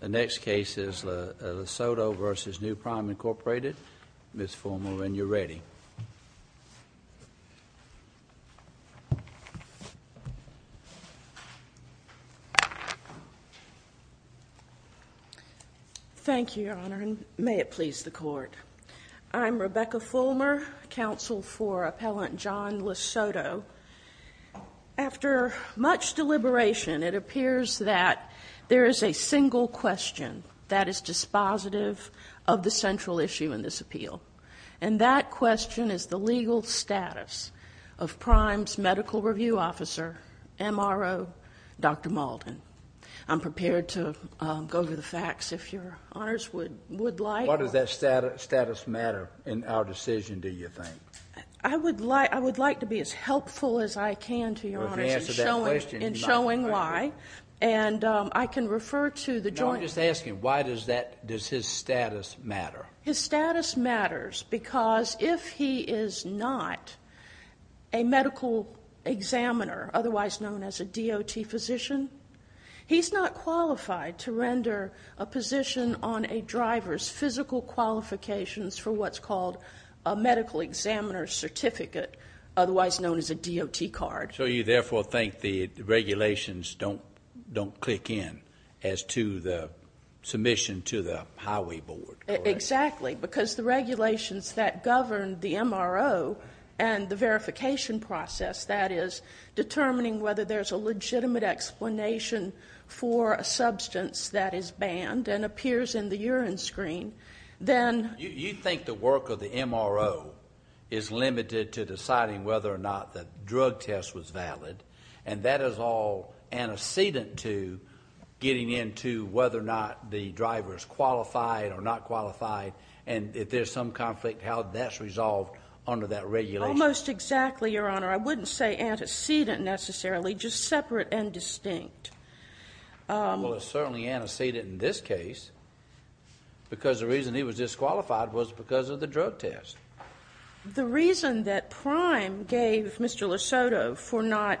The next case is Lisotto v. New Prime Incorporated. Ms. Fulmer, when you're ready. Thank you, Your Honor, and may it please the Court. I'm Rebecca Fulmer, counsel for Appellant John Lisotto. After much deliberation, it appears that there is a single question that is dispositive of the central issue in this appeal. And that question is the legal status of Prime's medical review officer, MRO, Dr. Malden. I'm prepared to go over the facts if Your Honors would like. Why does that status matter in our decision, do you think? I would like to be as helpful as I can to Your Honors in showing why. And I can refer to the joint... No, I'm just asking, why does his status matter? His status matters because if he is not a medical examiner, otherwise known as a DOT physician, he's not qualified to render a position on a driver's physical qualifications for what's called a medical examiner's certificate, otherwise known as a DOT card. So you therefore think the regulations don't click in as to the submission to the highway board? Exactly, because the regulations that govern the MRO and the verification process, that is determining whether there's a legitimate explanation for a substance that is banned and appears in the urine screen, then... You think the work of the MRO is limited to deciding whether or not the drug test was valid, and that is all antecedent to getting into whether or not the driver is qualified or not qualified, and if there's some conflict, how that's resolved under that regulation. Almost exactly, Your Honor. I wouldn't say antecedent necessarily, just separate and distinct. Well, it's certainly antecedent in this case, because the reason he was disqualified was because of the drug test. The reason that Prime gave Mr. Lesoto for not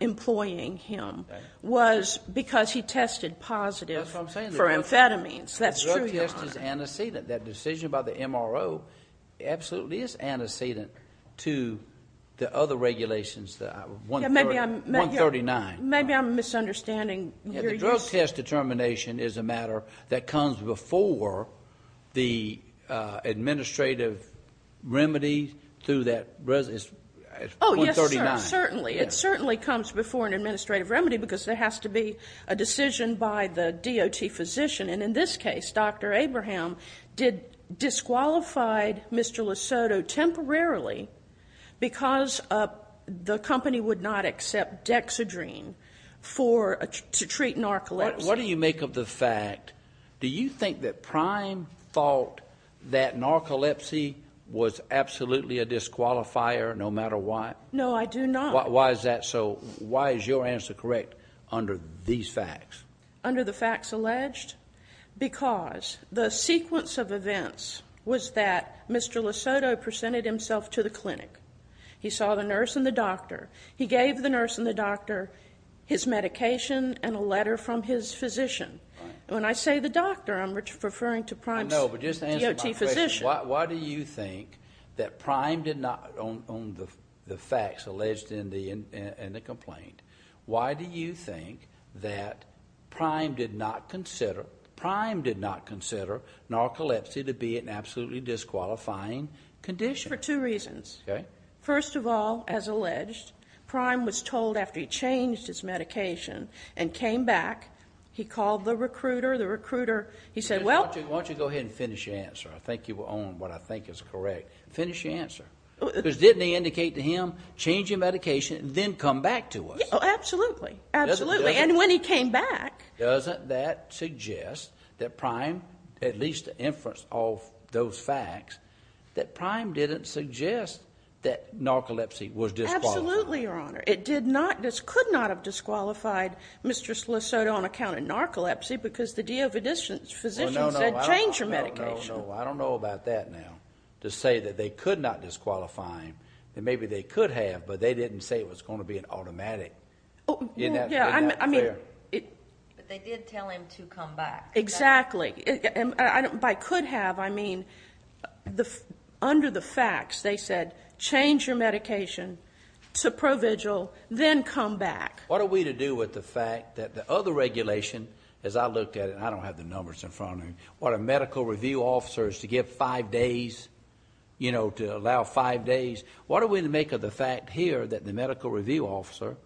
employing him was because he tested positive for amphetamines. That's what I'm saying. That's true, Your Honor. It absolutely is antecedent to the other regulations, 139. Maybe I'm misunderstanding. The drug test determination is a matter that comes before the administrative remedy through that. Oh, yes, certainly. It certainly comes before an administrative remedy, because there has to be a decision by the DOT physician, and in this case, Dr. Abraham disqualified Mr. Lesoto temporarily because the company would not accept dexedrine to treat narcolepsy. What do you make of the fact? Do you think that Prime thought that narcolepsy was absolutely a disqualifier, no matter what? No, I do not. Why is that so? Why is your answer correct under these facts? Under the facts alleged? Because the sequence of events was that Mr. Lesoto presented himself to the clinic. He saw the nurse and the doctor. He gave the nurse and the doctor his medication and a letter from his physician. When I say the doctor, I'm referring to Prime's DOT physician. I know, but just answer my question. Why do you think that Prime did not, on the facts alleged in the complaint, why do you think that Prime did not consider narcolepsy to be an absolutely disqualifying condition? For two reasons. Okay. First of all, as alleged, Prime was told after he changed his medication and came back, he called the recruiter. The recruiter, he said, well. Why don't you go ahead and finish your answer. I think you were on what I think is correct. Finish your answer. Because didn't he indicate to him, change your medication and then come back to us? Absolutely. Absolutely. And when he came back. Doesn't that suggest that Prime, at least the inference of those facts, that Prime didn't suggest that narcolepsy was disqualified? Absolutely, Your Honor. It did not, this could not have disqualified Mr. Lesoto on account of narcolepsy because the DO physician said change your medication. No, no, no. I don't know about that now. To say that they could not disqualify him, that maybe they could have, but they didn't say it was going to be an automatic. Isn't that fair? Yeah, I mean. But they did tell him to come back. Exactly. By could have, I mean under the facts. They said change your medication to provigil, then come back. What are we to do with the fact that the other regulation, as I looked at it, and I don't have the numbers in front of me, what a medical review officer is to give five days, you know, to allow five days. What are we to make of the fact here that the medical review officer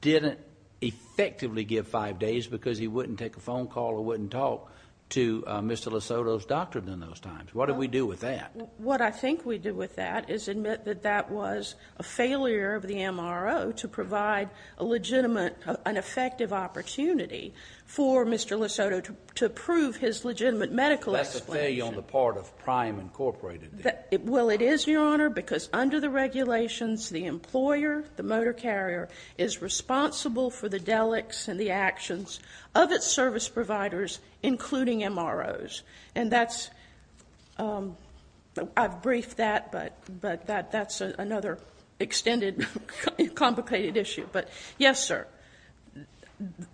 didn't effectively give five days because he wouldn't take a phone call or wouldn't talk to Mr. Lesoto's doctor in those times? What do we do with that? What I think we do with that is admit that that was a failure of the MRO to provide a legitimate and effective opportunity for Mr. Lesoto to prove his legitimate medical explanation. That's a failure on the part of Prime Incorporated. Well, it is, Your Honor, because under the regulations, the employer, the motor carrier is responsible for the delics and the actions of its service providers, including MROs. And I've briefed that, but that's another extended complicated issue. But, yes, sir,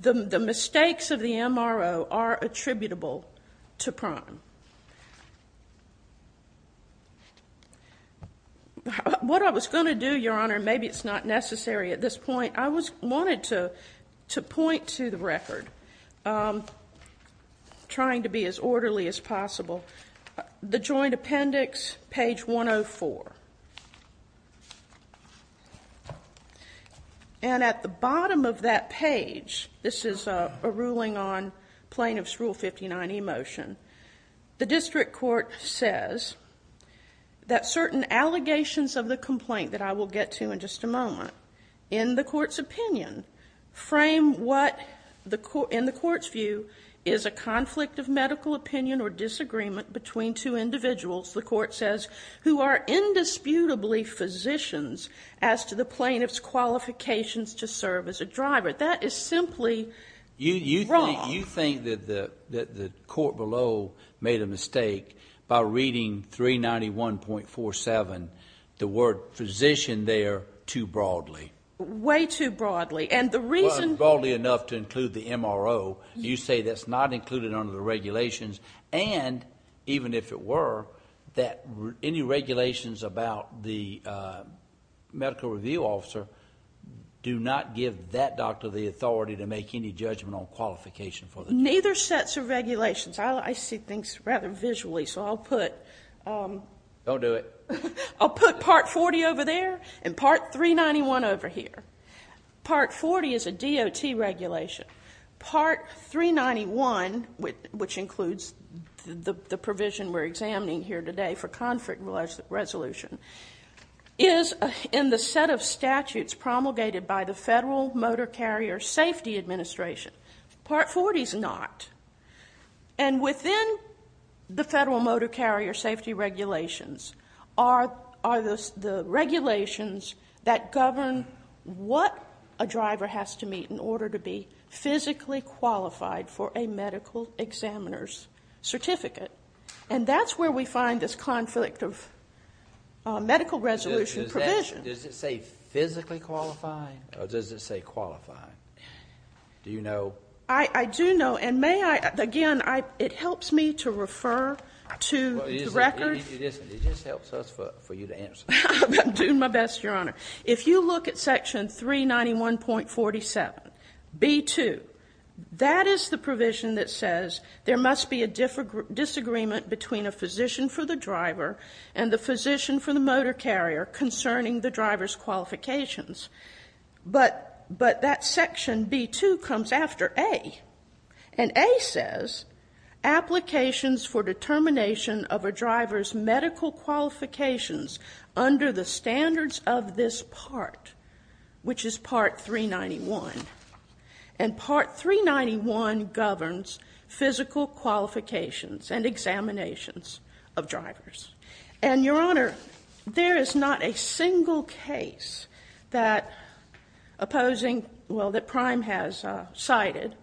the mistakes of the MRO are attributable to Prime. What I was going to do, Your Honor, and maybe it's not necessary at this point, I wanted to point to the record, trying to be as orderly as possible, the joint appendix, page 104. And at the bottom of that page, this is a ruling on plaintiff's Rule 59e motion, the district court says that certain allegations of the complaint that I will get to in just a moment, in the court's opinion, frame what, in the court's view, is a conflict of medical opinion or disagreement between two individuals, the court says, who are indisputably physicians as to the plaintiff's qualifications to serve as a driver. That is simply wrong. You think that the court below made a mistake by reading 391.47, the word physician there, too broadly. Way too broadly. And the reason why. Well, it's broadly enough to include the MRO. You say that's not included under the regulations, and even if it were, that any regulations about the medical review officer do not give that doctor the authority to make any judgment on qualification for the job. Neither sets of regulations. I see things rather visually, so I'll put. Don't do it. I'll put Part 40 over there and Part 391 over here. Part 40 is a DOT regulation. Part 391, which includes the provision we're examining here today for conflict resolution, is in the set of statutes promulgated by the Federal Motor Carrier Safety Administration. Part 40 is not. And within the Federal Motor Carrier Safety regulations are the regulations that govern what a driver has to meet in order to be physically qualified for a medical examiner's certificate. And that's where we find this conflict of medical resolution provision. Does it say physically qualified, or does it say qualified? Do you know? I do know. And may I? Again, it helps me to refer to the records. It just helps us for you to answer. I'm doing my best, Your Honor. If you look at Section 391.47, B2, that is the provision that says there must be a disagreement between a physician for the driver and the physician for the motor carrier concerning the driver's qualifications. But that Section B2 comes after A. And A says applications for determination of a driver's medical qualifications under the standards of this part, which is Part 391. And Part 391 governs physical qualifications and examinations of drivers. And, Your Honor, there is not a single case that Prime has cited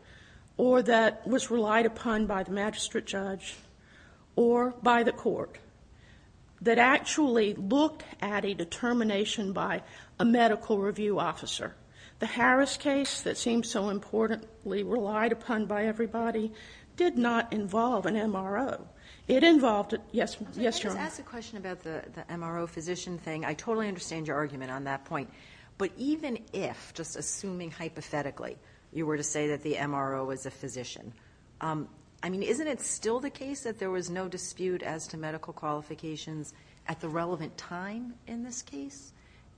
or that was relied upon by the magistrate judge or by the court that actually looked at a determination by a medical review officer. The Harris case that seems so importantly relied upon by everybody did not involve an MRO. It involved it. Yes, Your Honor. Let me just ask a question about the MRO physician thing. I totally understand your argument on that point. But even if, just assuming hypothetically, you were to say that the MRO was a physician, I mean, isn't it still the case that there was no dispute as to medical qualifications at the relevant time in this case?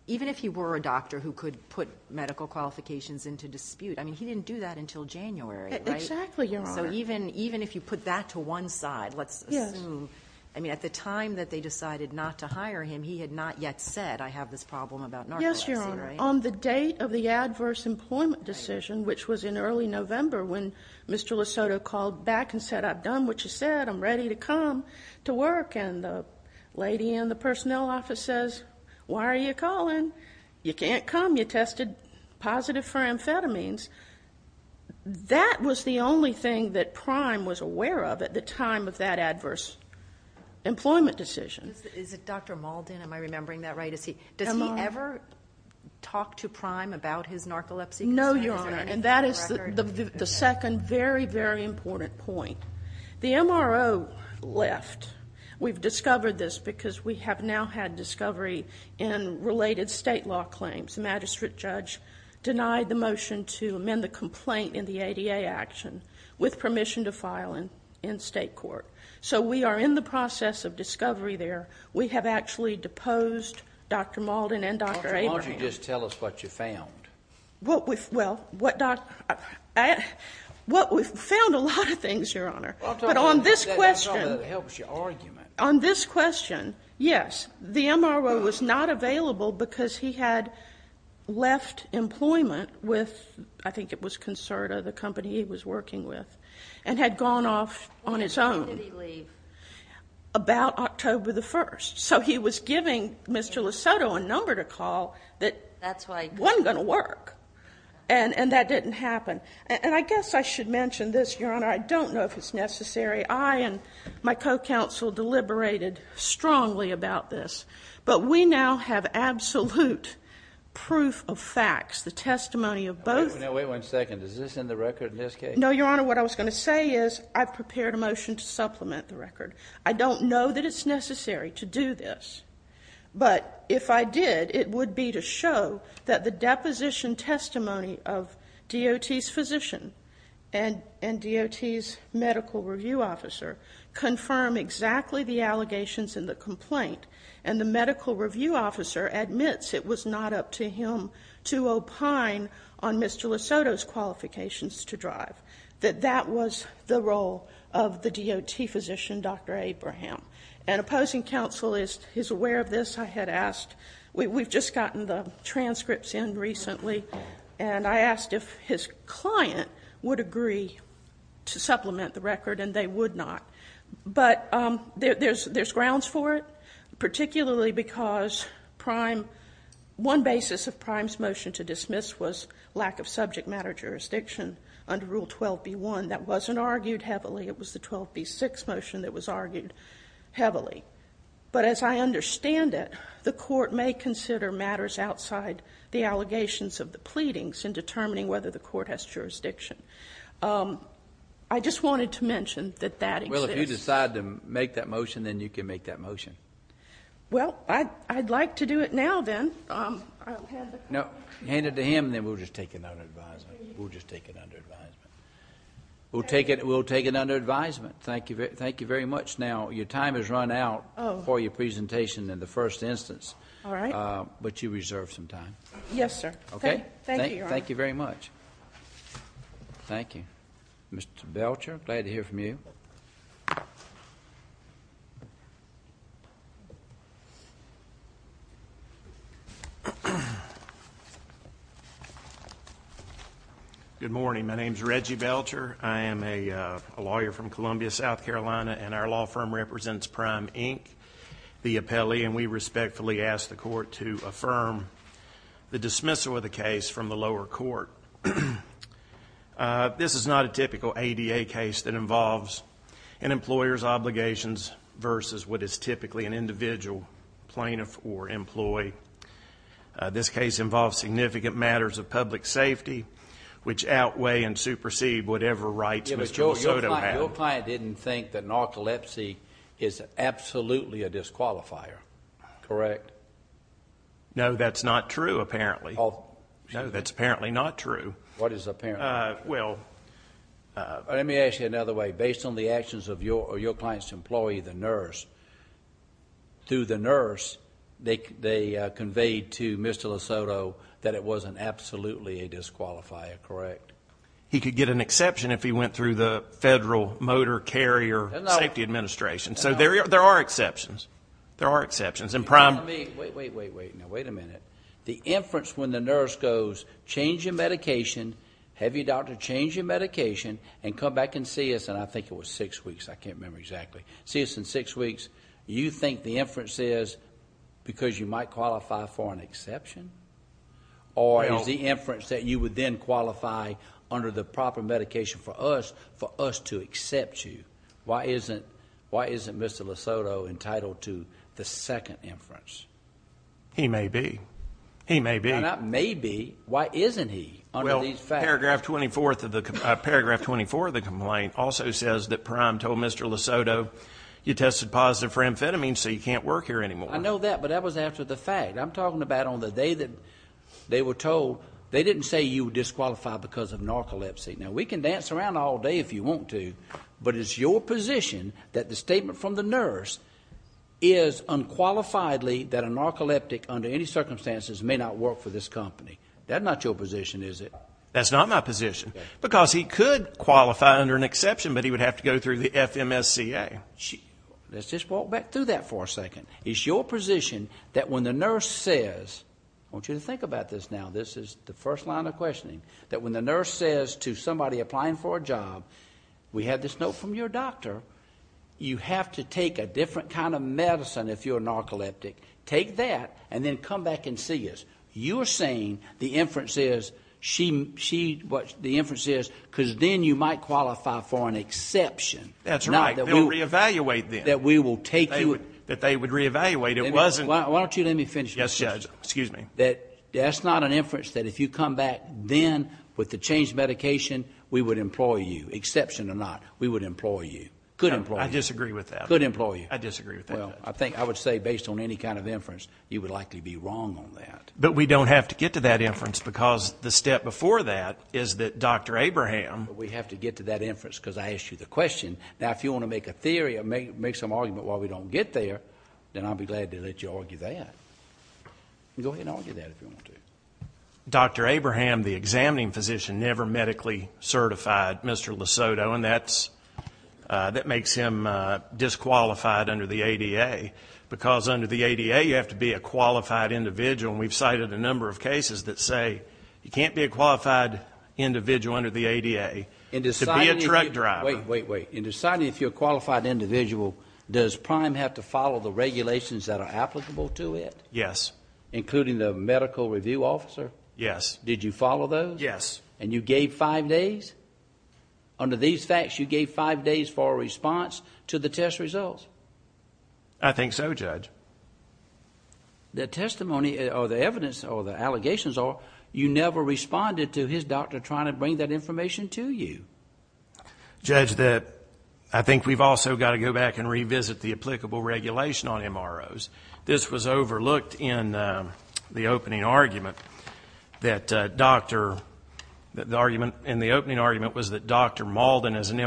Even if he were a doctor who could put medical qualifications into dispute, Exactly, Your Honor. So even if you put that to one side, let's assume, I mean, at the time that they decided not to hire him, he had not yet said, I have this problem about narcolepsy, right? Yes, Your Honor. On the date of the adverse employment decision, which was in early November, when Mr. Lesoto called back and said, I've done what you said. I'm ready to come to work. And the lady in the personnel office says, Why are you calling? You can't come. You tested positive for amphetamines. That was the only thing that Prime was aware of at the time of that adverse employment decision. Is it Dr. Malden? Am I remembering that right? Does he ever talk to Prime about his narcolepsy? No, Your Honor. And that is the second very, very important point. The MRO left. We've discovered this because we have now had discovery in related state law claims. The magistrate judge denied the motion to amend the complaint in the ADA action with permission to file in state court. So we are in the process of discovery there. We have actually deposed Dr. Malden and Dr. Abraham. Why don't you just tell us what you found? Well, what we've found a lot of things, Your Honor. But on this question. That's all that helps your argument. On this question, yes. The MRO was not available because he had left employment with, I think it was Concerta, the company he was working with, and had gone off on his own. When did he leave? About October 1st. So he was giving Mr. Lesoto a number to call that wasn't going to work. And that didn't happen. And I guess I should mention this, Your Honor. I don't know if it's necessary. I and my co-counsel deliberated strongly about this. But we now have absolute proof of facts, the testimony of both. Now, wait one second. Is this in the record in this case? No, Your Honor. What I was going to say is I've prepared a motion to supplement the record. I don't know that it's necessary to do this. But if I did, it would be to show that the deposition testimony of DOT's physician and DOT's medical review officer confirm exactly the allegations in the complaint. And the medical review officer admits it was not up to him to opine on Mr. Lesoto's qualifications to drive, that that was the role of the DOT physician, Dr. Abraham. And opposing counsel is aware of this. I had asked. We've just gotten the transcripts in recently. And I asked if his client would agree to supplement the record. And they would not. But there's grounds for it, particularly because one basis of Prime's motion to dismiss was lack of subject matter jurisdiction under Rule 12b-1. That wasn't argued heavily. It was the 12b-6 motion that was argued heavily. But as I understand it, the court may consider matters outside the allegations of the pleadings in determining whether the court has jurisdiction. I just wanted to mention that that exists. Well, if you decide to make that motion, then you can make that motion. Well, I'd like to do it now, then. No, hand it to him, and then we'll just take it under advisement. We'll just take it under advisement. We'll take it under advisement. Thank you very much. Now, your time has run out for your presentation in the first instance. All right. But you reserve some time. Yes, sir. Okay. Thank you, Your Honor. Thank you very much. Thank you. Mr. Belcher, glad to hear from you. Good morning. My name is Reggie Belcher. I am a lawyer from Columbia, South Carolina, and our law firm represents Prime, Inc., the appellee, and we respectfully ask the court to affirm the dismissal of the case from the lower court. This is not a typical ADA case that involves an employer's obligations versus what is typically an individual plaintiff or employee. This case involves significant matters of public safety, which outweigh and supersede whatever rights Mr. Misoto had. Your client didn't think that narcolepsy is absolutely a disqualifier, correct? No, that's not true, apparently. No, that's apparently not true. What is apparently? Well... Let me ask you another way. Based on the actions of your client's employee, the nurse, through the nurse, they conveyed to Mr. Misoto that it wasn't absolutely a disqualifier, correct? He could get an exception if he went through the Federal Motor Carrier Safety Administration. So there are exceptions. There are exceptions. Wait a minute. The inference when the nurse goes, change your medication, have your doctor change your medication, and come back and see us, and I think it was six weeks, I can't remember exactly, see us in six weeks, you think the inference is because you might qualify for an exception? Or is the inference that you would then qualify under the proper medication for us, for us to accept you? Why isn't Mr. Misoto entitled to the second inference? He may be. He may be. Not maybe. Why isn't he under these facts? Paragraph 24 of the complaint also says that Prime told Mr. Misoto, you tested positive for amphetamine, so you can't work here anymore. I know that, but that was after the fact. I'm talking about on the day that they were told, they didn't say you would disqualify because of narcolepsy. Now, we can dance around all day if you want to, but it's your position that the statement from the nurse is unqualifiedly that a narcoleptic, under any circumstances, may not work for this company. That's not your position, is it? No. That's not my position. Because he could qualify under an exception, but he would have to go through the FMSCA. Let's just walk back through that for a second. It's your position that when the nurse says, I want you to think about this now, this is the first line of questioning, that when the nurse says to somebody applying for a job, we have this note from your doctor, you have to take a different kind of medicine if you're a narcoleptic. Take that and then come back and see us. You're saying the inference is she, what the inference is, because then you might qualify for an exception. That's right. They'll reevaluate then. That we will take you. That they would reevaluate. Why don't you let me finish? Yes, Judge. Excuse me. That's not an inference that if you come back then with the changed medication, we would employ you. Exception or not, we would employ you. Could employ you. I disagree with that. Could employ you. I disagree with that. Well, I think I would say based on any kind of inference, you would likely be wrong on that. But we don't have to get to that inference because the step before that is that Dr. Abraham. We have to get to that inference because I asked you the question. Now, if you want to make a theory or make some argument while we don't get there, then I'll be glad to let you argue that. Go ahead and argue that if you want to. Dr. Abraham, the examining physician, never medically certified Mr. Lesoto, and that makes him disqualified under the ADA because under the ADA you have to be a qualified individual, and we've cited a number of cases that say you can't be a qualified individual under the ADA to be a truck driver. Wait, wait, wait. In deciding if you're a qualified individual, does Prime have to follow the regulations that are applicable to it? Yes. Including the medical review officer? Yes. Did you follow those? Yes. And you gave five days? Yes. Under these facts, you gave five days for a response to the test results? I think so, Judge. The testimony or the evidence or the allegations are you never responded to his doctor trying to bring that information to you. Judge, I think we've also got to go back and revisit the applicable regulation on MROs. This was overlooked in the opening argument that Dr. Maldon as an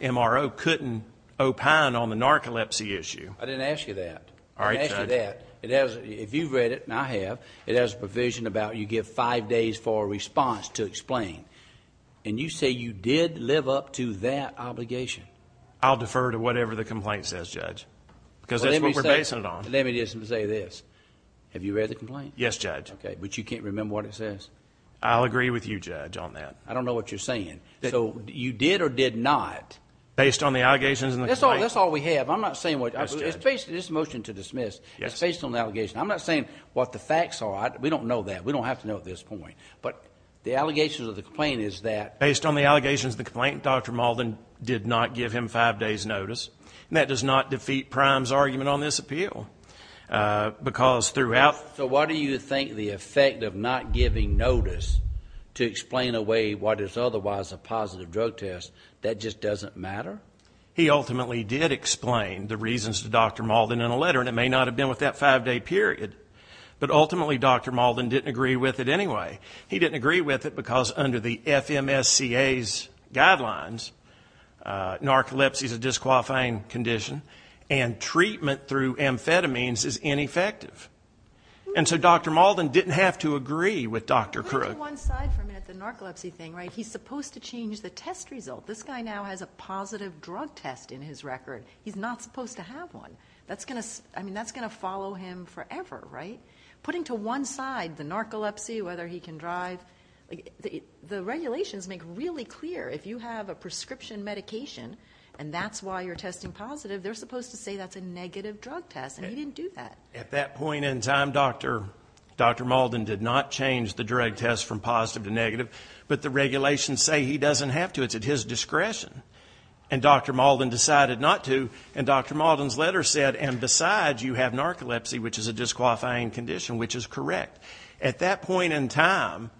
MRO couldn't opine on the narcolepsy issue. I didn't ask you that. I didn't ask you that. If you've read it, and I have, it has a provision about you give five days for a response to explain, and you say you did live up to that obligation. I'll defer to whatever the complaint says, Judge. Because that's what we're basing it on. Let me just say this. Have you read the complaint? Yes, Judge. Okay. But you can't remember what it says? I'll agree with you, Judge, on that. I don't know what you're saying. So you did or did not? Based on the allegations in the complaint. That's all we have. I'm not saying what you're saying. It's a motion to dismiss. Yes. It's based on the allegation. I'm not saying what the facts are. We don't know that. We don't have to know at this point. But the allegations of the complaint is that Dr. Maldon did not give him five days notice. And that does not defeat Prime's argument on this appeal. Because throughout... So why do you think the effect of not giving notice to explain away what is otherwise a positive drug test, that just doesn't matter? He ultimately did explain the reasons to Dr. Maldon in a letter, and it may not have been with that five-day period. But ultimately, Dr. Maldon didn't agree with it anyway. He didn't agree with it because under the FMSCA's guidelines, narcolepsy is a disqualifying condition and treatment through amphetamines is ineffective. And so Dr. Maldon didn't have to agree with Dr. Krug. Put it to one side for a minute, the narcolepsy thing, right? He's supposed to change the test result. This guy now has a positive drug test in his record. He's not supposed to have one. I mean, that's going to follow him forever, right? Putting to one side the narcolepsy, whether he can drive, the regulations make really clear if you have a prescription medication and that's why you're testing positive, they're supposed to say that's a negative drug test, and he didn't do that. At that point in time, Dr. Maldon did not change the drug test from positive to negative. But the regulations say he doesn't have to. It's at his discretion. And Dr. Maldon decided not to. And Dr. Maldon's letter said, and besides, you have narcolepsy, which is a disqualifying condition, which is correct. At that point in time,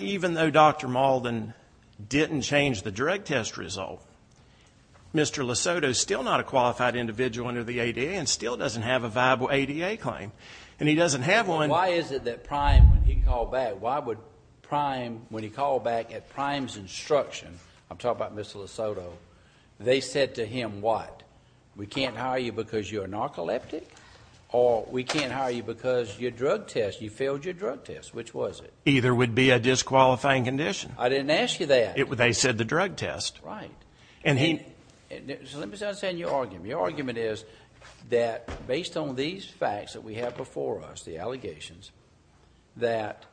even though Dr. Maldon didn't change the drug test result, Mr. Lesoto is still not a qualified individual under the ADA and still doesn't have a viable ADA claim. And he doesn't have one. Why is it that Prime, when he called back, why would Prime, when he called back at Prime's instruction, I'm talking about Mr. Lesoto, they said to him, what, we can't hire you because you're narcoleptic or we can't hire you because your drug test, you failed your drug test. Which was it? Either would be a disqualifying condition. I didn't ask you that. They said the drug test. Right. So let me just understand your argument. Your argument is that based on these facts that we have before us, the allegations, that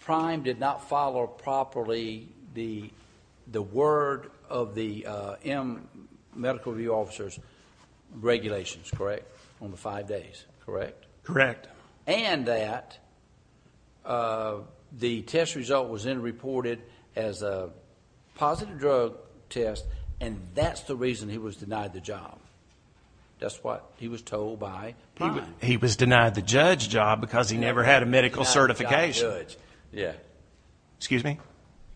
Prime did not follow properly the word of the M medical review officer's regulations, correct, on the five days, correct? Correct. And that the test result was then reported as a positive drug test, and that's the reason he was denied the job. That's what he was told by Prime. He was denied the judge job because he never had a medical certification. Yeah. Excuse me?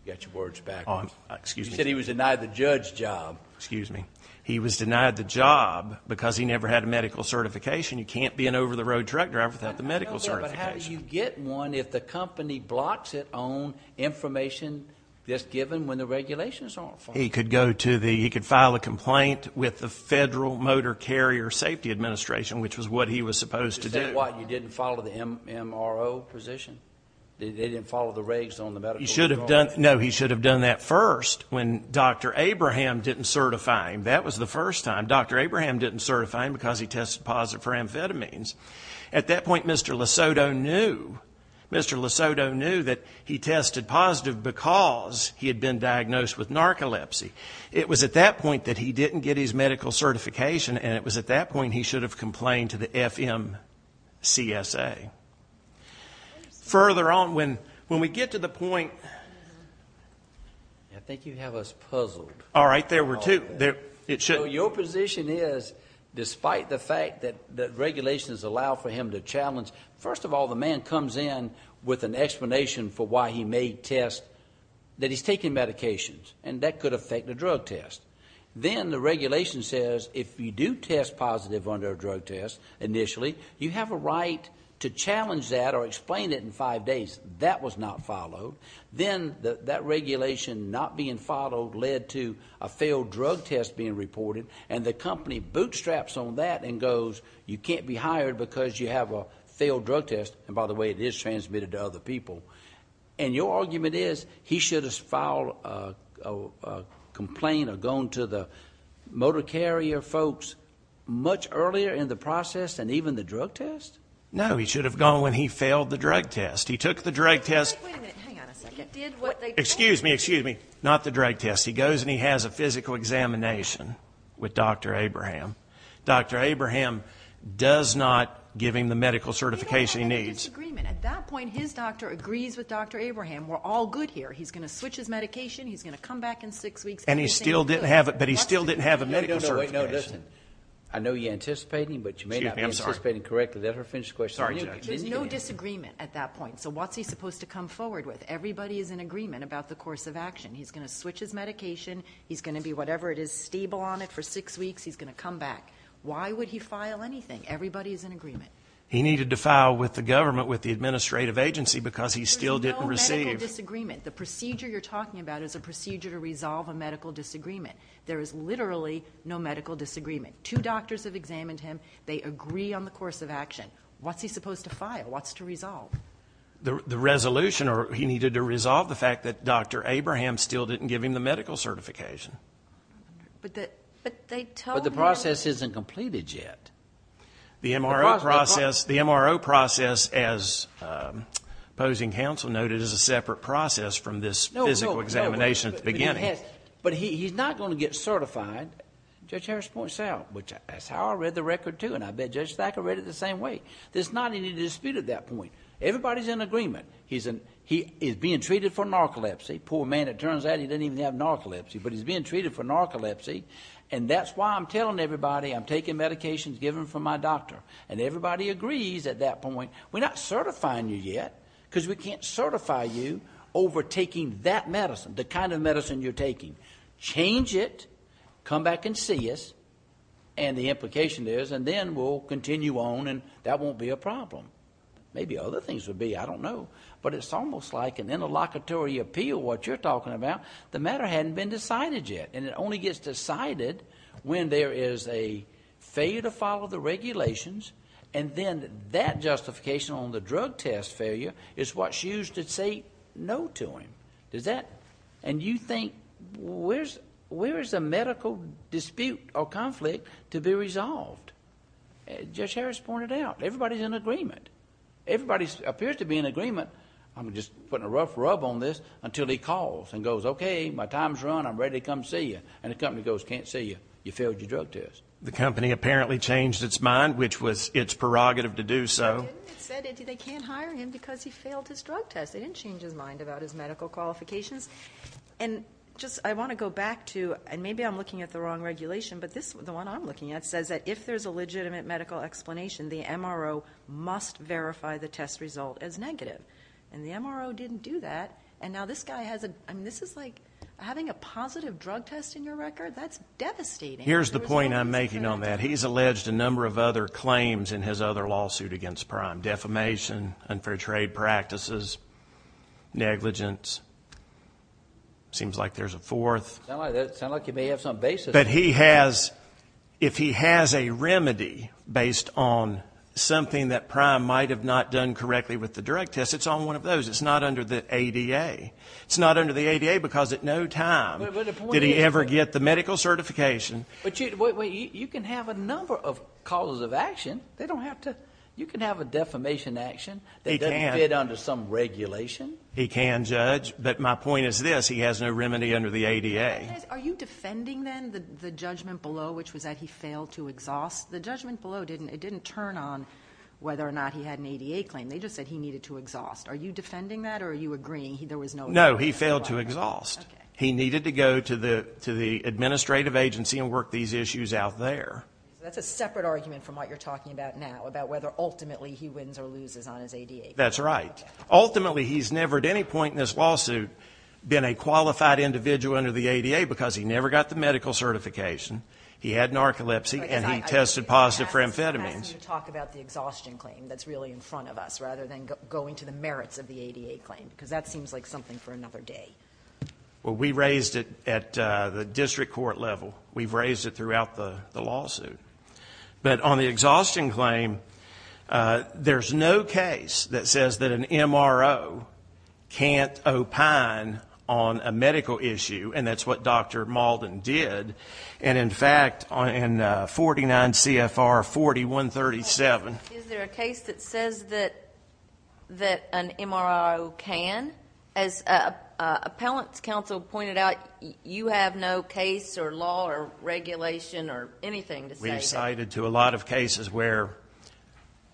You've got your words backwards. Excuse me. You said he was denied the judge job. Excuse me. He was denied the job because he never had a medical certification. You can't be an over-the-road truck driver without the medical certification. I know that, but how do you get one if the company blocks it on information that's given when the regulations aren't following? He could go to the, he could file a complaint with the Federal Motor Carrier Safety Administration, which was what he was supposed to do. Is that why you didn't follow the MRO position? They didn't follow the regs on the medical drawings? No, he should have done that first. When Dr. Abraham didn't certify him, that was the first time. Dr. Abraham didn't certify him because he tested positive for amphetamines. At that point, Mr. Lesoto knew. Mr. Lesoto knew that he tested positive because he had been diagnosed with narcolepsy. It was at that point that he didn't get his medical certification, and it was at that point he should have complained to the FMCSA. Further on, when we get to the point. I think you have us puzzled. All right, there were two. Your position is, despite the fact that regulations allow for him to challenge, first of all, the man comes in with an explanation for why he made tests, that he's taking medications, and that could affect the drug test. Then the regulation says if you do test positive under a drug test initially, you have a right to challenge that or explain it in five days. That was not followed. Then that regulation not being followed led to a failed drug test being reported, and the company bootstraps on that and goes, you can't be hired because you have a failed drug test, and by the way, it is transmitted to other people. And your argument is he should have filed a complaint or gone to the motor carrier folks much earlier in the process than even the drug test? No, he should have gone when he failed the drug test. He took the drug test. Wait a minute. Hang on a second. Excuse me, excuse me. Not the drug test. He goes and he has a physical examination with Dr. Abraham. Dr. Abraham does not give him the medical certification he needs. There is no disagreement. At that point, his doctor agrees with Dr. Abraham. We're all good here. He's going to switch his medication. He's going to come back in six weeks. And he still didn't have it, but he still didn't have a medical certification. Wait, no, listen. I know you're anticipating, but you may not be anticipating correctly. Let her finish the question. There's no disagreement at that point. So what's he supposed to come forward with? Everybody is in agreement about the course of action. He's going to switch his medication. He's going to be whatever it is, stable on it for six weeks. He's going to come back. Why would he file anything? Everybody is in agreement. He needed to file with the government, with the administrative agency, because he still didn't receive. There's no medical disagreement. The procedure you're talking about is a procedure to resolve a medical disagreement. There is literally no medical disagreement. Two doctors have examined him. They agree on the course of action. What's he supposed to file? What's to resolve? The resolution, or he needed to resolve the fact that Dr. Abraham still didn't give him the medical certification. But the process isn't completed yet. The MRO process, as opposing counsel noted, is a separate process from this physical examination at the beginning. But he's not going to get certified. Judge Harris points out, which is how I read the record too, and I bet Judge Thacker read it the same way. There's not any dispute at that point. Everybody is in agreement. He is being treated for narcolepsy. Poor man, it turns out he doesn't even have narcolepsy. But he's being treated for narcolepsy, and that's why I'm telling everybody I'm taking medications given from my doctor. And everybody agrees at that point, we're not certifying you yet because we can't certify you over taking that medicine, the kind of medicine you're taking. Change it, come back and see us, and the implication is, and then we'll continue on, and that won't be a problem. Maybe other things would be. I don't know. But it's almost like an interlocutory appeal, what you're talking about. The matter hadn't been decided yet, and it only gets decided when there is a failure to follow the regulations, and then that justification on the drug test failure is what's used to say no to him. And you think, where is the medical dispute or conflict to be resolved? Judge Harris pointed it out. Everybody is in agreement. Everybody appears to be in agreement. I'm just putting a rough rub on this until he calls and goes, okay, my time has run. I'm ready to come see you. And the company goes, can't see you. You failed your drug test. The company apparently changed its mind, which was its prerogative to do so. They can't hire him because he failed his drug test. They didn't change his mind about his medical qualifications. And I want to go back to, and maybe I'm looking at the wrong regulation, but the one I'm looking at says that if there's a legitimate medical explanation, the MRO must verify the test result as negative. And the MRO didn't do that. And now this guy has a, I mean, this is like having a positive drug test in your record. That's devastating. Here's the point I'm making on that. He's alleged a number of other claims in his other lawsuit against Prime. Defamation, unfair trade practices, negligence. Seems like there's a fourth. Sounds like you may have some basis. But he has, if he has a remedy based on something that Prime might have not done correctly with the drug test, it's on one of those. It's not under the ADA. It's not under the ADA because at no time did he ever get the medical certification. But you can have a number of causes of action. You can have a defamation action that doesn't fit under some regulation. He can, Judge. But my point is this. He has no remedy under the ADA. Are you defending, then, the judgment below, which was that he failed to exhaust? The judgment below didn't turn on whether or not he had an ADA claim. They just said he needed to exhaust. Are you defending that or are you agreeing there was no ADA? No, he failed to exhaust. He needed to go to the administrative agency and work these issues out there. That's a separate argument from what you're talking about now, about whether ultimately he wins or loses on his ADA claim. That's right. Ultimately, he's never at any point in this lawsuit been a qualified individual under the ADA because he never got the medical certification. He had narcolepsy and he tested positive for amphetamines. I'm asking you to talk about the exhaustion claim that's really in front of us rather than going to the merits of the ADA claim because that seems like something for another day. Well, we raised it at the district court level. We've raised it throughout the lawsuit. But on the exhaustion claim, there's no case that says that an MRO can't opine on a medical issue, and that's what Dr. Malden did. And, in fact, in 49 CFR 4137. Is there a case that says that an MRO can? As appellant's counsel pointed out, you have no case or law or regulation or anything to say that. We've cited to a lot of cases where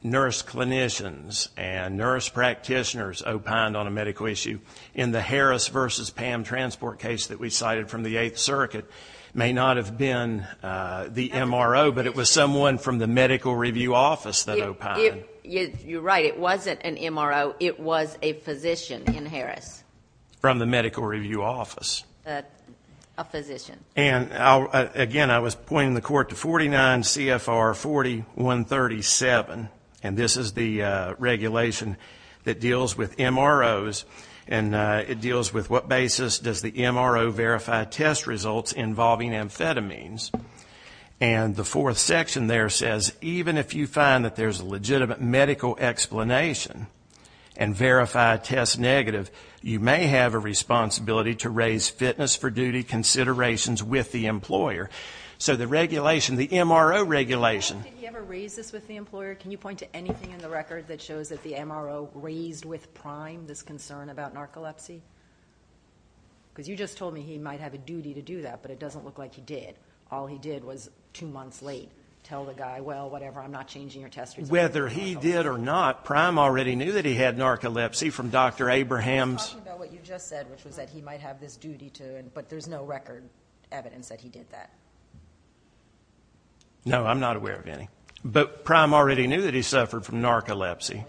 nurse clinicians and nurse practitioners opined on a medical issue. In the Harris versus Pam transport case that we cited from the Eighth Circuit may not have been the MRO, but it was someone from the medical review office that opined. You're right. It wasn't an MRO. It was a physician in Harris. From the medical review office. A physician. And, again, I was pointing the court to 49 CFR 4137, and this is the regulation that deals with MROs, and it deals with what basis does the MRO verify test results involving amphetamines. And the fourth section there says, even if you find that there's a legitimate medical explanation and verify test negative, you may have a responsibility to raise fitness for duty considerations with the employer. So the regulation, the MRO regulation. Did he ever raise this with the employer? Can you point to anything in the record that shows that the MRO raised with Prime this concern about narcolepsy? Because you just told me he might have a duty to do that, but it doesn't look like he did. All he did was two months late tell the guy, well, whatever, I'm not changing your test results. Whether he did or not, Prime already knew that he had narcolepsy from Dr. Abraham's. I'm talking about what you just said, which was that he might have this duty to, but there's no record evidence that he did that. No, I'm not aware of any. But Prime already knew that he suffered from narcolepsy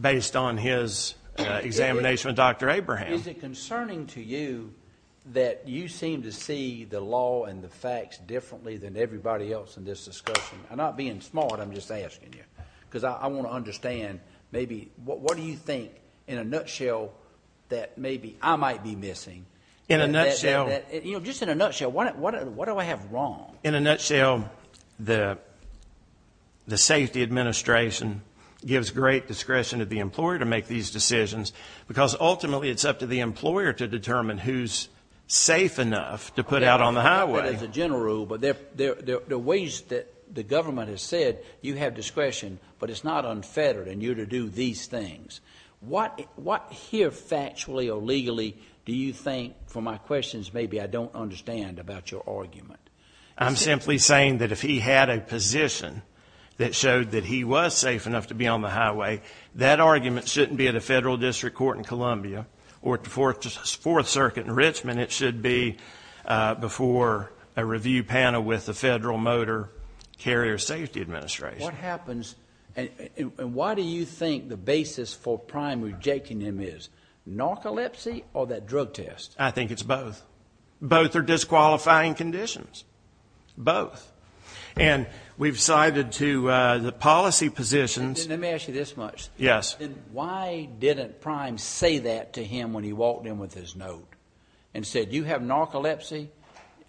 based on his examination with Dr. Abraham. Is it concerning to you that you seem to see the law and the facts differently than everybody else in this discussion? I'm not being smart, I'm just asking you. Because I want to understand maybe, what do you think, in a nutshell, that maybe I might be missing? In a nutshell? You know, just in a nutshell, what do I have wrong? In a nutshell, the safety administration gives great discretion to the employer to make these decisions, because ultimately it's up to the employer to determine who's safe enough to put out on the highway. As a general rule, but there are ways that the government has said you have discretion, but it's not unfettered and you're to do these things. What here factually or legally do you think, for my questions, maybe I don't understand about your argument? I'm simply saying that if he had a position that showed that he was safe enough to be on the highway, that argument shouldn't be at a federal district court in Columbia or at the Fourth Circuit in Richmond. It should be before a review panel with the Federal Motor Carrier Safety Administration. What happens, and why do you think the basis for Prime rejecting him is narcolepsy or that drug test? I think it's both. Both are disqualifying conditions. Both. And we've cited to the policy positions. Let me ask you this much. Yes. Why didn't Prime say that to him when he walked in with his note and said, you have narcolepsy,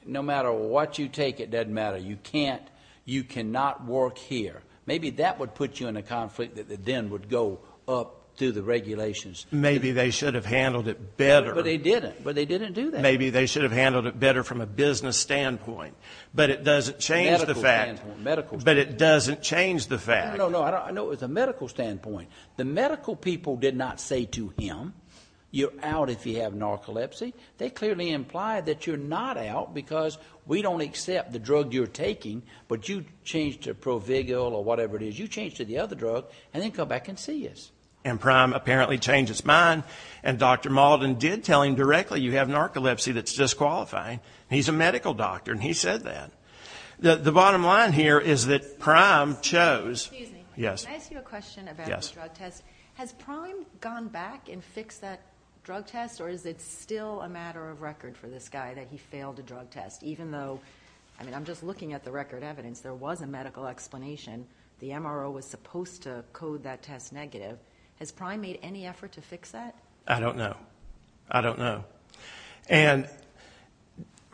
no matter what you take, it doesn't matter. You can't, you cannot work here. Maybe that would put you in a conflict that then would go up through the regulations. Maybe they should have handled it better. But they didn't. But they didn't do that. Maybe they should have handled it better from a business standpoint. But it doesn't change the fact. Medical standpoint. Medical standpoint. But it doesn't change the fact. No, no, no. I know it was a medical standpoint. The medical people did not say to him, you're out if you have narcolepsy. They clearly implied that you're not out because we don't accept the drug you're taking, but you change to Provigal or whatever it is. You change to the other drug and then come back and see us. And Prime apparently changed his mind. And Dr. Maldon did tell him directly, you have narcolepsy that's disqualifying. He's a medical doctor, and he said that. The bottom line here is that Prime chose. Excuse me. Yes. Can I ask you a question about the drug test? Yes. Has Prime gone back and fixed that drug test, or is it still a matter of record for this guy that he failed a drug test, even though, I mean, I'm just looking at the record evidence. There was a medical explanation. The MRO was supposed to code that test negative. Has Prime made any effort to fix that? I don't know. I don't know. And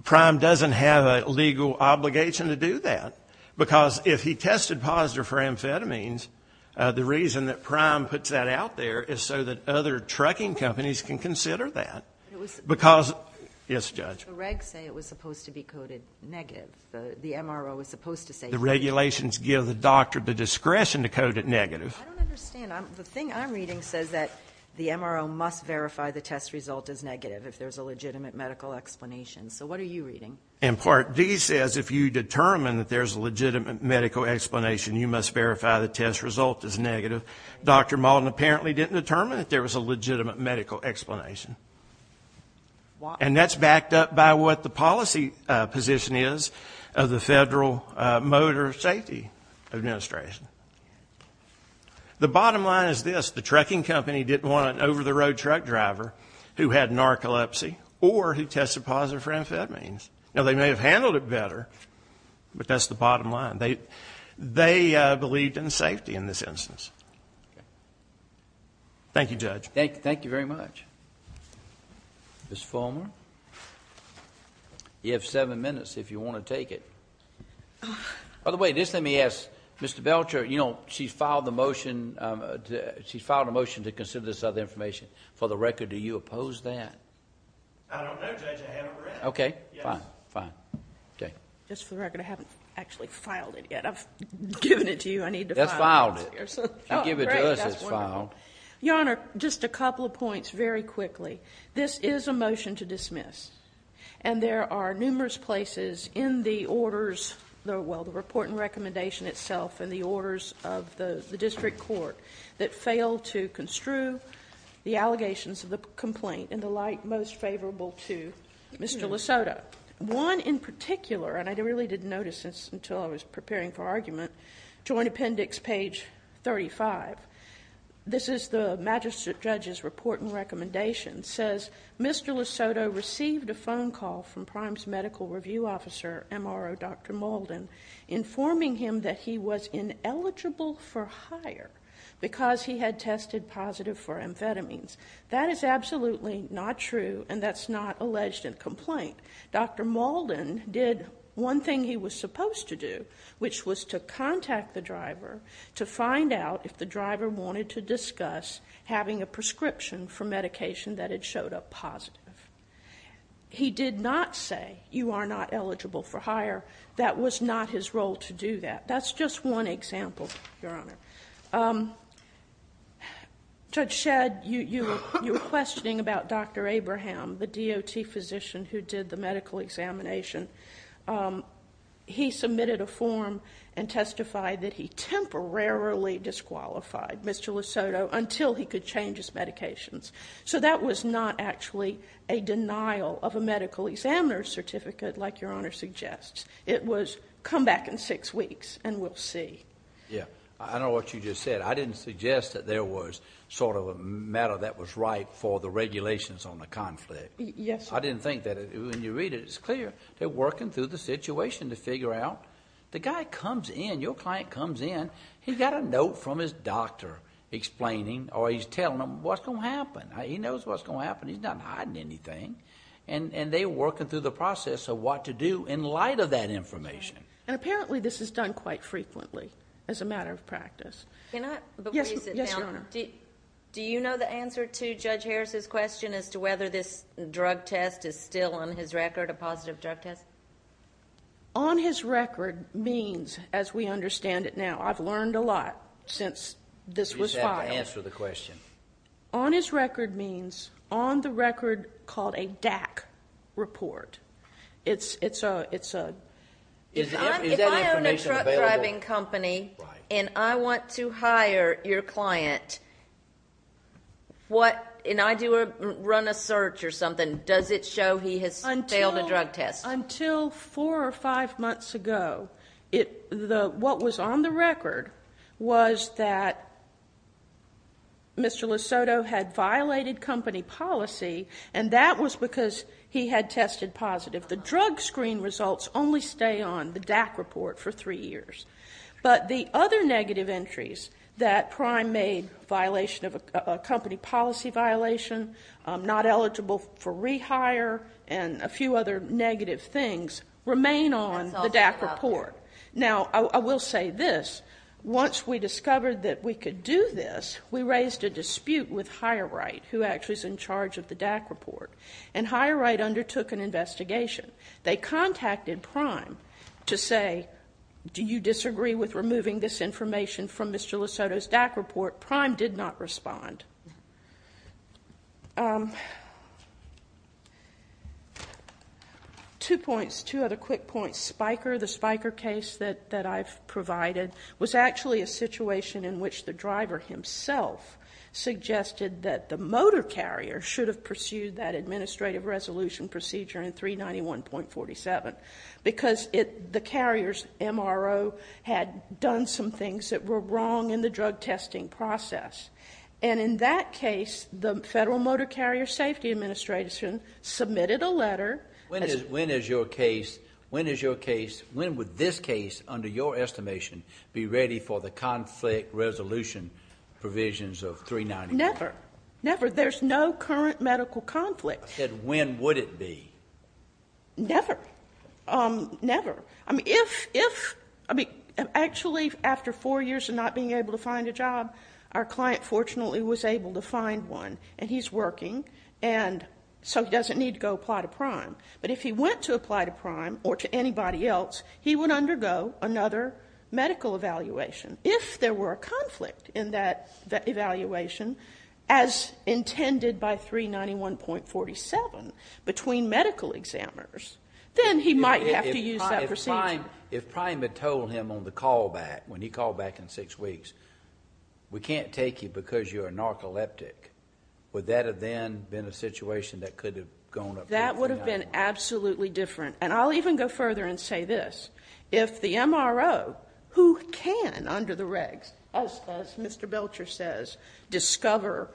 Prime doesn't have a legal obligation to do that because if he tested positive for amphetamines, the reason that Prime puts that out there is so that other trucking companies can consider that. Yes, Judge. The regs say it was supposed to be coded negative. The MRO was supposed to say negative. The regulations give the doctor the discretion to code it negative. I don't understand. The thing I'm reading says that the MRO must verify the test result is negative if there's a legitimate medical explanation. So what are you reading? And Part D says if you determine that there's a legitimate medical explanation, you must verify the test result is negative. Dr. Maldon apparently didn't determine that there was a legitimate medical explanation. And that's backed up by what the policy position is of the Federal Motor Safety Administration. The bottom line is this. The trucking company didn't want an over-the-road truck driver who had narcolepsy or who tested positive for amphetamines. Now, they may have handled it better, but that's the bottom line. They believed in safety in this instance. Thank you, Judge. Thank you very much. Ms. Fulmer, you have seven minutes if you want to take it. By the way, just let me ask, Mr. Belcher, you know, she filed a motion to consider this other information. For the record, do you oppose that? I don't know, Judge. I haven't read it. Okay. Fine. Fine. Okay. Just for the record, I haven't actually filed it yet. I've given it to you. I need to file it. Just filed it. I'll give it to us as filed. Great. That's wonderful. Your Honor, just a couple of points very quickly. This is a motion to dismiss. And there are numerous places in the orders, well, the report and recommendation itself and the orders of the district court that fail to construe the allegations of the complaint in the light most favorable to Mr. Lesoto. One in particular, and I really didn't notice this until I was preparing for argument, Joint Appendix, page 35. This is the magistrate judge's report and recommendation. It says, Mr. Lesoto received a phone call from Primes Medical Review Officer, MRO Dr. Malden, informing him that he was ineligible for hire because he had tested positive for amphetamines. That is absolutely not true, and that's not alleged in the complaint. Dr. Malden did one thing he was supposed to do, which was to contact the driver to find out if the driver wanted to discuss having a prescription for medication that had showed up positive. He did not say, you are not eligible for hire. That was not his role to do that. That's just one example, Your Honor. Judge Shedd, you were questioning about Dr. Abraham, the DOT physician who did the medical examination. He submitted a form and testified that he temporarily disqualified Mr. Lesoto until he could change his medications. So that was not actually a denial of a medical examiner's certificate like Your Honor suggests. It was, come back in six weeks and we'll see. Yeah, I know what you just said. I didn't suggest that there was sort of a matter that was ripe for the regulations on the conflict. Yes, sir. I didn't think that. When you read it, it's clear they're working through the situation to figure out. The guy comes in, your client comes in, he's got a note from his doctor explaining or he's telling them what's going to happen. He knows what's going to happen. He's not hiding anything. And they're working through the process of what to do in light of that information. And apparently this is done quite frequently as a matter of practice. Can I? Yes, Your Honor. Do you know the answer to Judge Harris's question as to whether this drug test is still on his record, a positive drug test? On his record means, as we understand it now, I've learned a lot since this was filed. You just have to answer the question. On his record means on the record called a DAC report. Is that information available? If I own a truck driving company and I want to hire your client, and I do run a search or something, does it show he has failed a drug test? Until four or five months ago, what was on the record was that Mr. Lisotto had violated company policy, and that was because he had tested positive. The drug screen results only stay on the DAC report for three years. But the other negative entries that Prime made, a company policy violation, not eligible for rehire, and a few other negative things remain on the DAC report. Now, I will say this, once we discovered that we could do this, we raised a dispute with HireRight, who actually is in charge of the DAC report, and HireRight undertook an investigation. They contacted Prime to say, do you disagree with removing this information from Mr. Lisotto's DAC report? Prime did not respond. Two points, two other quick points. The Spiker case that I've provided was actually a situation in which the driver himself suggested that the motor carrier should have pursued that administrative resolution procedure in 391.47, because the carrier's MRO had done some things that were wrong in the drug testing process. And in that case, the Federal Motor Carrier Safety Administration submitted a letter. When is your case, when is your case, when would this case, under your estimation, be ready for the conflict resolution provisions of 391? Never. Never. There's no current medical conflict. I said, when would it be? Never. Never. I mean, if, actually, after four years of not being able to find a job, our client fortunately was able to find one, and he's working, and so he doesn't need to go apply to Prime. But if he went to apply to Prime or to anybody else, he would undergo another medical evaluation. If there were a conflict in that evaluation, as intended by 391.47, between medical examiners, then he might have to use that procedure. If Prime had told him on the call back, when he called back in six weeks, we can't take you because you're narcoleptic, would that have then been a situation that could have gone up to 391? That would have been absolutely different. And I'll even go further and say this. If the MRO, who can, under the regs, as Mr. Belcher says, discover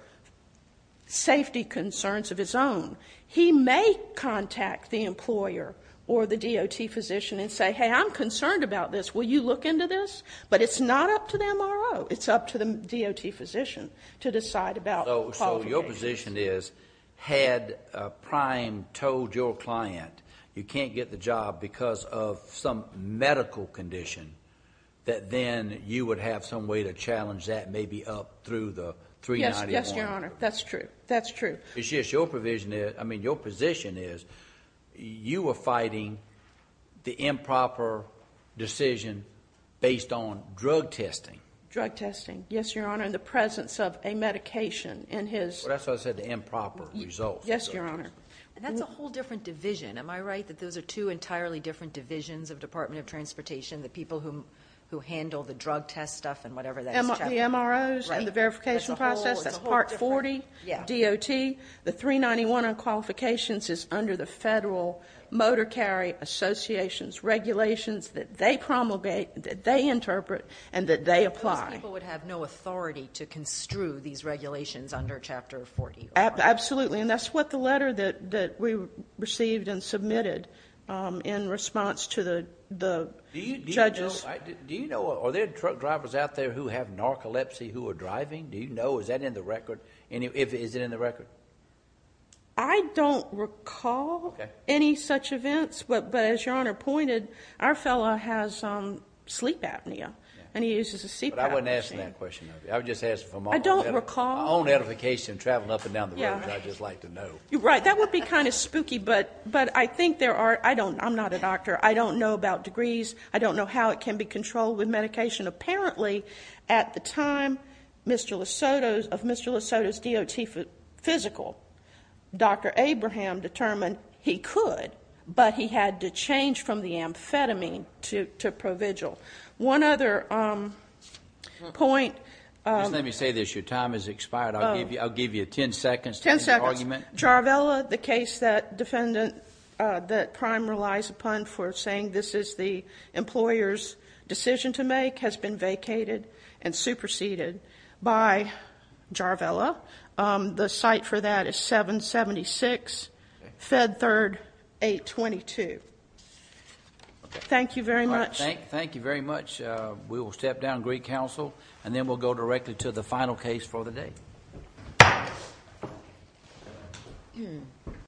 safety concerns of his own, he may contact the employer or the DOT physician and say, hey, I'm concerned about this. Will you look into this? But it's not up to the MRO. It's up to the DOT physician to decide about quality. So your position is, had Prime told your client you can't get the job because of some medical condition, that then you would have some way to challenge that maybe up through the 391? Yes, Your Honor. That's true. That's true. It's just your position is you are fighting the improper decision based on drug testing. Drug testing, yes, Your Honor, in the presence of a medication in his. Well, that's what I said, the improper result. Yes, Your Honor. And that's a whole different division. Am I right that those are two entirely different divisions of Department of Transportation, the people who handle the drug test stuff and whatever that is? The MROs and the verification process, that's a whole different. The 391 on qualifications is under the Federal Motor Carry Association's regulations that they promulgate, that they interpret, and that they apply. Those people would have no authority to construe these regulations under Chapter 40, Your Honor. Absolutely, and that's what the letter that we received and submitted in response to the judges. Do you know, are there truck drivers out there who have narcolepsy who are driving? Do you know? Is that in the record? Is it in the record? I don't recall any such events. But as Your Honor pointed, our fellow has sleep apnea, and he uses a CPAP machine. But I wasn't asking that question of you. I was just asking for my own edification traveling up and down the range. I just like to know. You're right. That would be kind of spooky, but I think there are. I'm not a doctor. I don't know about degrees. I don't know how it can be controlled with medication. Apparently, at the time of Mr. Lesoto's DOT physical, Dr. Abraham determined he could, but he had to change from the amphetamine to ProVigil. One other point. Just let me say this. Your time has expired. Ten seconds. Jarvella, the case that prime relies upon for saying this is the employer's decision to make, has been vacated and superseded by Jarvella. The site for that is 776 Fed Third 822. Thank you very much. Thank you very much. We will step down, agree counsel, and then we'll go directly to the final case for the day.